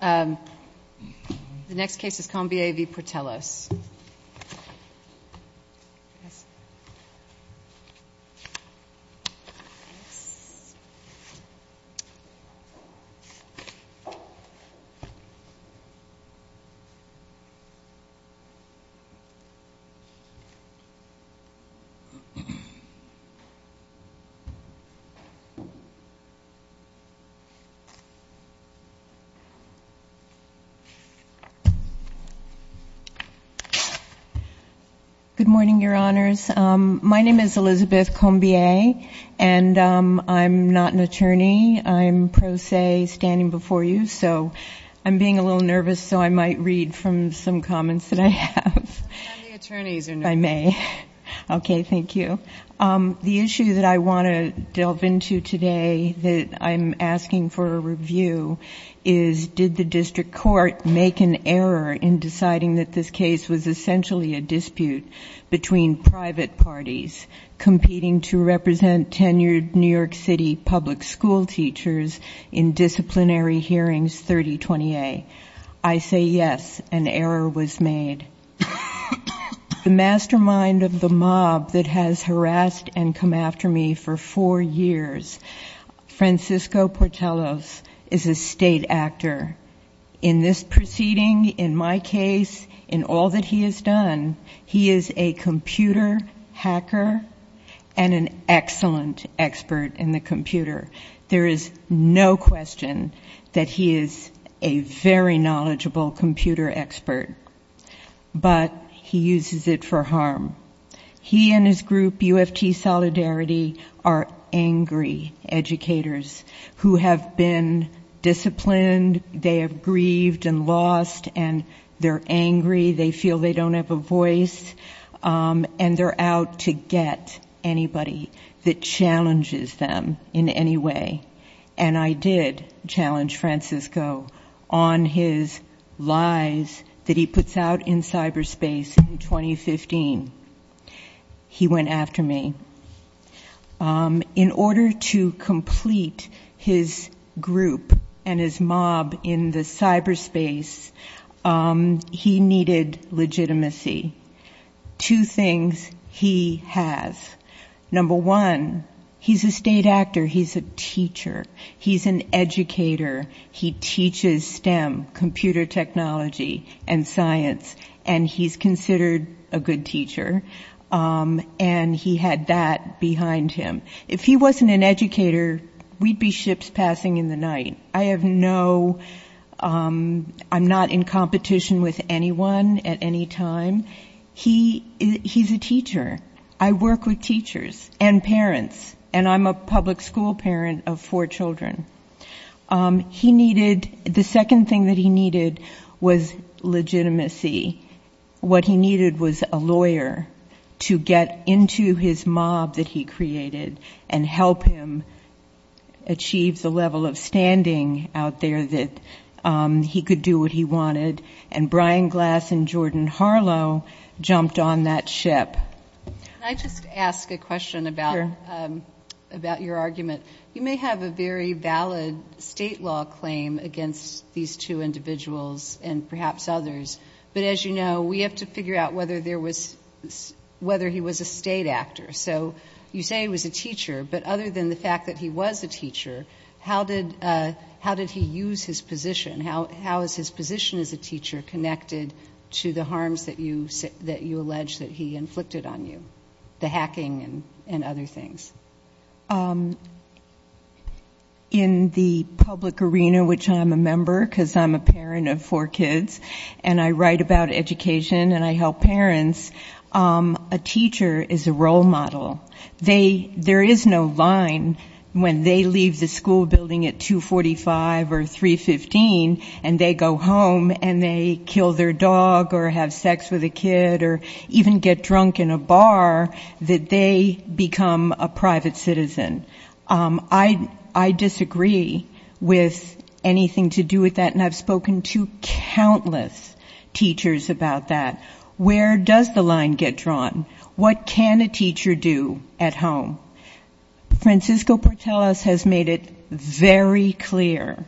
The next case is Combier v. Portelos. Elizabeth Combier Good morning, Your Honors. My name is Elizabeth Combier, and I'm not an attorney. I'm pro se standing before you, so I'm being a little nervous, so I might read from some comments that I have. The attorneys are nervous. I may. Okay, thank you. The issue that I want to delve into today that I'm asking for a moment is, did the district court make an error in deciding that this case was essentially a dispute between private parties competing to represent tenured New York City public school teachers in disciplinary hearings 3020A? I say yes, an error was made. The mastermind of the mob that has harassed and come after me for four years, Francisco Portelos is a state actor. In this proceeding, in my case, in all that he has done, he is a computer hacker and an excellent expert in the computer. There is no question that he is a very knowledgeable computer expert, but he uses it for harm. He and his group, UFT Solidarity, are angry educators who have been disciplined. They have grieved and lost, and they're angry. They feel they don't have a voice, and they're out to get anybody that challenges them in any way, and I did challenge Francisco on his lies that he puts out in cyberspace in 2015. He went after me. In order to complete his group and his mob in the cyberspace, he needed legitimacy. Two things he has. Number one, he's a state actor. He's a teacher. He's an educator. He teaches STEM, computer technology, and science, and he's considered a good teacher, and he had that behind him. If he wasn't an educator, we'd be ships passing in the night. I have no, I'm not in competition with anyone at any time. He's a teacher. I work with teachers and parents, and I'm a public school parent of four children. He needed, the second thing that he needed was legitimacy. What he needed was a lawyer to get into his mob that he created and help him achieve the level of standing out there that he could do what he wanted, and Brian Glass and Jordan Harlow jumped on that ship. Can I just ask a question about your argument? You may have a very valid state law claim against these two individuals and perhaps others, but as you know, we have to figure out whether he was a state actor. You say he was a teacher, but other than the fact that he was a teacher, how did he use his position? How is his position as a teacher connected to the harms that you allege that he inflicted on you, the hacking and other things? In the public arena, which I'm a member because I'm a parent of four kids, and I write about education and I help parents, a teacher is a role model. There is no line when they leave the school building at 2.45 or 3.15 and they go home and they kill their dog or have sex with a kid or even get drunk in a bar that they become a private citizen. I disagree with anything to do with that, and I've spoken to countless teachers about that. Where does the line get drawn? What can a teacher do at home? Francisco Portelas has made it very clear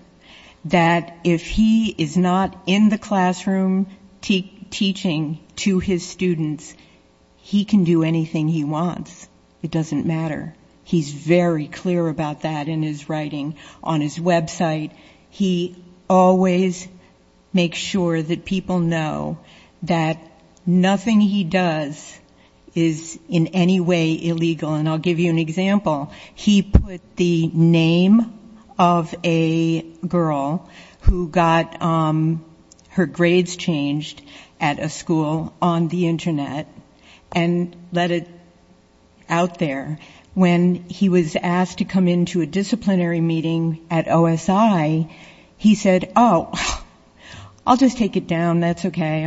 that if he is not in the classroom teaching to his students, he can do anything he wants. It doesn't matter. He's very clear about that in his writing. On his website, he always makes sure that people know that nothing he does is in any way illegal, and I'll give you an example. He put the name of a girl who got her grades changed at a school on the internet and let it out there. When he was asked to come into a disciplinary meeting at OSI, he said, oh, I'll just take it down, that's okay.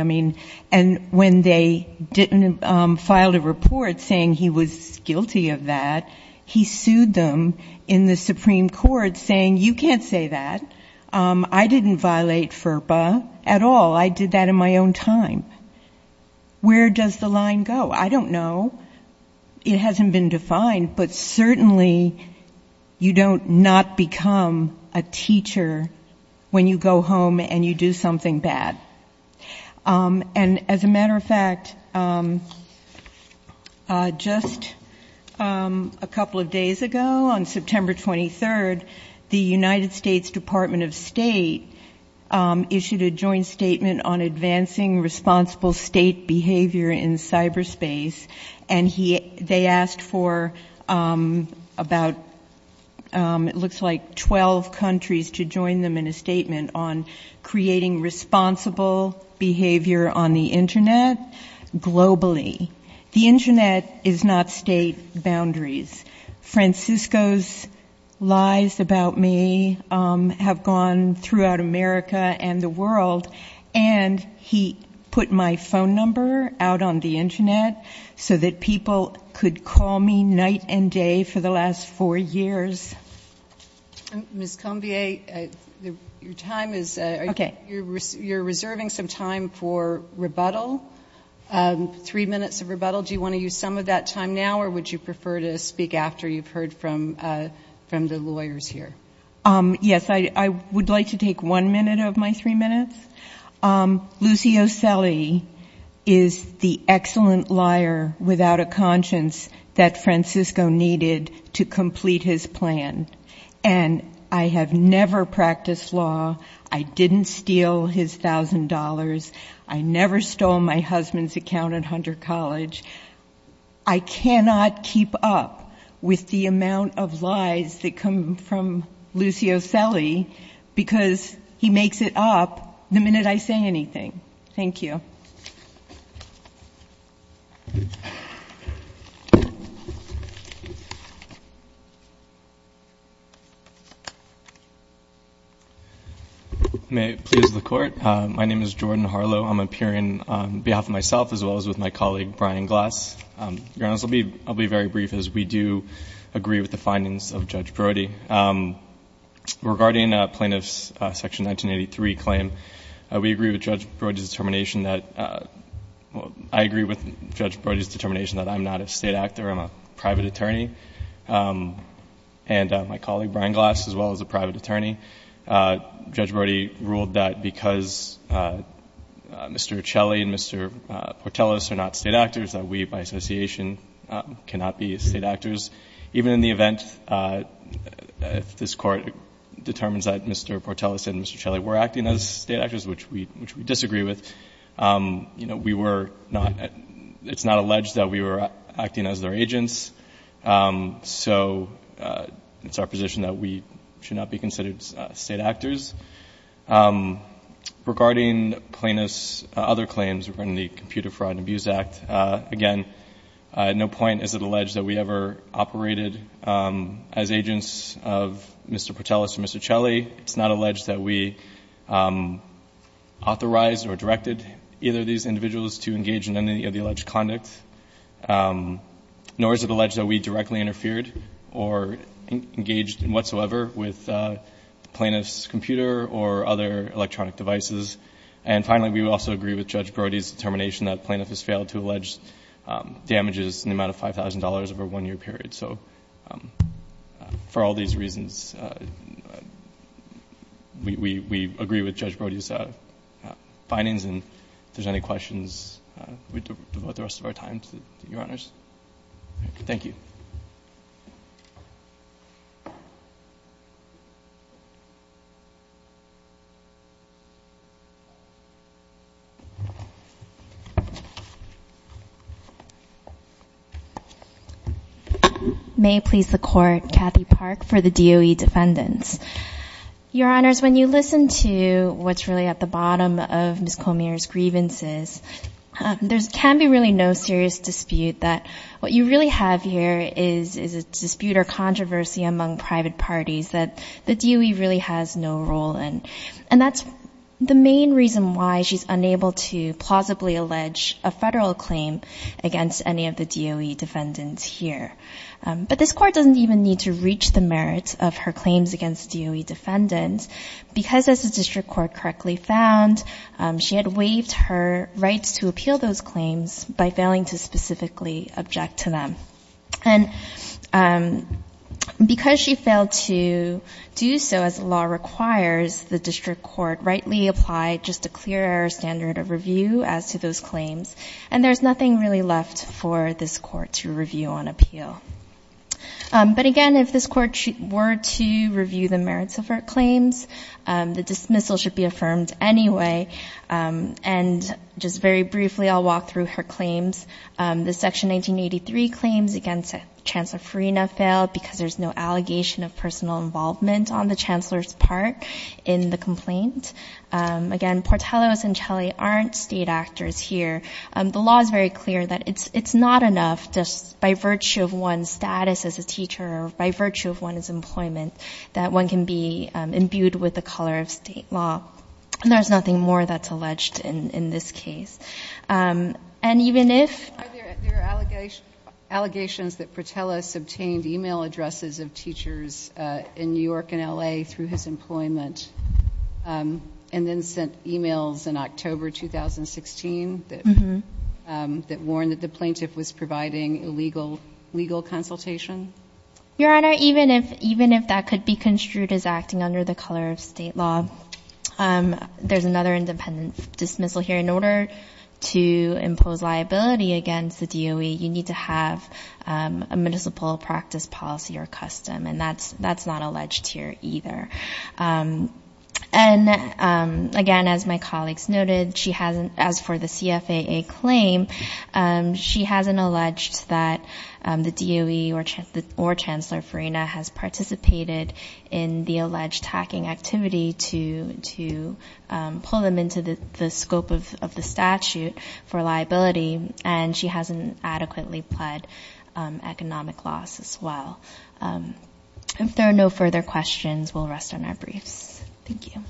And when they didn't file a report saying he was guilty, he sued them in the Supreme Court saying, you can't say that. I didn't violate FERPA at all. I did that in my own time. Where does the line go? I don't know. It hasn't been defined, but certainly you don't not become a teacher when you go home and you do something bad. And as a matter of fact, just, I don't know. I don't know. I don't know. A couple of days ago, on September 23rd, the United States Department of State issued a joint statement on advancing responsible state behavior in cyberspace, and they asked for about, it looks like, 12 countries to join them in a statement on creating responsible behavior on the internet globally. The internet is not state-bounded. Francisco's lies about me have gone throughout America and the world, and he put my phone number out on the internet so that people could call me night and day for the last four years. Ms. Combier, your time is, you're reserving some time for rebuttal, three minutes of rebuttal. Do you want to use some of that time now, or would you prefer to speak after you've heard from the lawyers here? Yes, I would like to take one minute of my three minutes. Lucio Selle is the excellent liar without a conscience that Francisco needed to complete his plan, and I have never practiced law. I didn't steal his $1,000. I never stole my husband's account at all. I cannot keep up with the amount of lies that come from Lucio Selle, because he makes it up the minute I say anything. Thank you. May it please the Court. My name is Jordan Harlow. I'm appearing on behalf of myself, as well as with my colleague, Brian Glass. Your Honor, I'll be very brief, as we do agree with the findings of Judge Brody. Regarding plaintiff's Section 1983 claim, we agree with Judge Brody's determination that, well, I agree with Judge Brody's determination that I'm not a state actor, I'm a private attorney, and my colleague, Brian Glass, as well as a private attorney. Judge Brody ruled that because Mr. Portellis are not state actors, that we, by association, cannot be state actors. Even in the event that this Court determines that Mr. Portellis and Mr. Selle were acting as state actors, which we disagree with, you know, we were not — it's not alleged that we were acting as their agents. So it's our position that we should not be considered state actors. Regarding plaintiff's other claims, regarding the Computer Fraud and Abuse Act, again, at no point is it alleged that we ever operated as agents of Mr. Portellis and Mr. Selle. It's not alleged that we authorized or directed either of these individuals to engage in any of the alleged conduct, nor is it alleged that we directly interfered or engaged in whatsoever with the plaintiff's computer. And finally, we also agree with Judge Brody's determination that plaintiff has failed to allege damages in the amount of $5,000 over a one-year period. So for all these reasons, we agree with Judge Brody's findings. And if there's any questions, we devote the rest of our time to Your Honors. Thank you. May it please the Court, Kathy Park for the DOE defendants. Your Honors, when you listen to what's really at the bottom of Ms. Colmere's grievances, there can be really no serious dispute that what you really have here is a dispute or controversy among private parties that the DOE really has no role in. And that's the main reason why she's unable to plausibly allege a federal claim against any of the DOE defendants here. But this Court doesn't even need to reach the merits of her claims against DOE defendants, because as the district court correctly found, she had waived her rights to appeal those claims by failing to specifically object to them. And because she failed to do so as the law requires, the district court rightly applied just a clear standard of review as to those claims, and there's nothing really left for this Court to review on appeal. But again, if this Court were to review the merits of her claims, the dismissal should be affirmed anyway. And just very briefly, I'll walk through her claims. The Section 1983 claims against Chancellor Farina failed because there's no allegation of personal involvement on the Chancellor's part in the complaint. Again, Portellos and Chelley aren't state actors here. The law is very clear that it's not enough just by virtue of one's status as a teacher or by virtue of one's employment that one can be imbued with the color of state law. And there's nothing more that's alleged in this case. And even if the plaintiff was providing illegal legal consultation. Your Honor, even if that could be construed as acting under the color of state law, there's another independent dismissal here. In order to impose liability against the DOE, you need to have a municipal practice policy or custom, and that's not alleged here either. And again, as my colleagues noted, as for the CFAA claim, she hasn't alleged that the DOE or Chancellor Farina has participated in the alleged hacking activity to pull them into the scope of the complaint. And she hasn't pleaded guilty in the case of the statute for liability, and she hasn't adequately pled economic loss as well. If there are no further questions, we'll rest on our briefs. Thank you.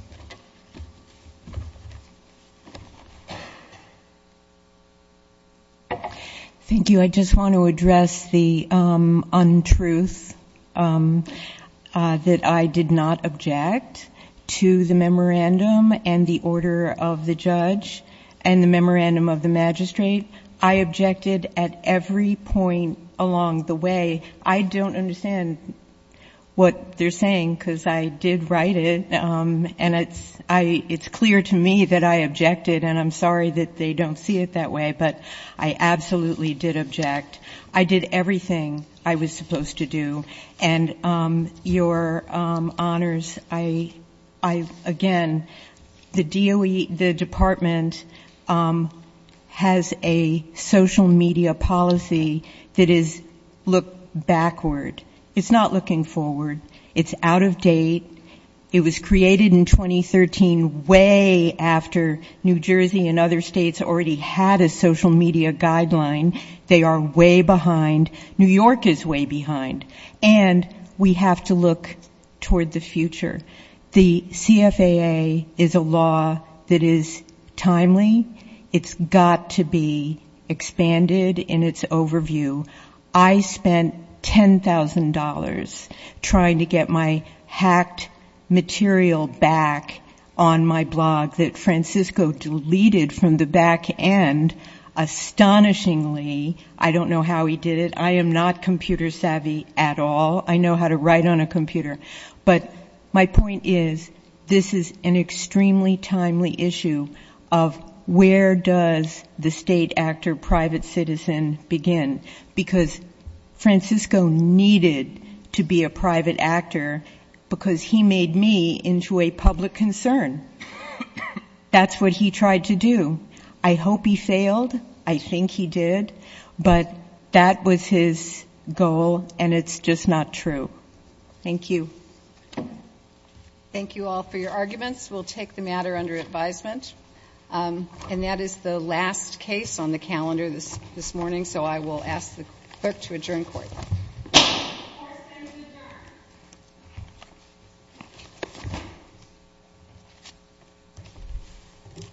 Thank you. I just want to address the untruth that I did not object to the memorandum and the order of the judge. And the memorandum of the magistrate. I objected at every point along the way. I don't understand what they're saying, because I did write it. And it's clear to me that I objected, and I'm sorry that they don't see it that way. But I absolutely did object. I did everything I was supposed to do. And your honors, I, again, the DOE, the department has a social media policy that is looked backward. It's not looking forward. It's out of date. It was created in 2013 way after New Jersey and other states already had a social media guideline. They are way behind. New York is way behind. And we have to look toward the future. The CFAA is a law that is timely. It's got to be expanded in its overview. I spent $10,000 trying to get my hacked material back on my blog that Francisco deleted from the back end, astonishingly. I don't know how he did it. I am not computer savvy at all. I know how to write on a computer. But my point is, this is an extremely timely issue of where does the state actor private citizen begin. Because Francisco needed to be a private actor, because he made me into a public concern. That's what he tried to do. I hope he failed. I think he did. But that was his goal, and it's just not true. Thank you. Thank you all for your arguments. We'll take the matter under advisement. And that is the last case on the calendar this morning, so I will ask the clerk to adjourn court. Thank you.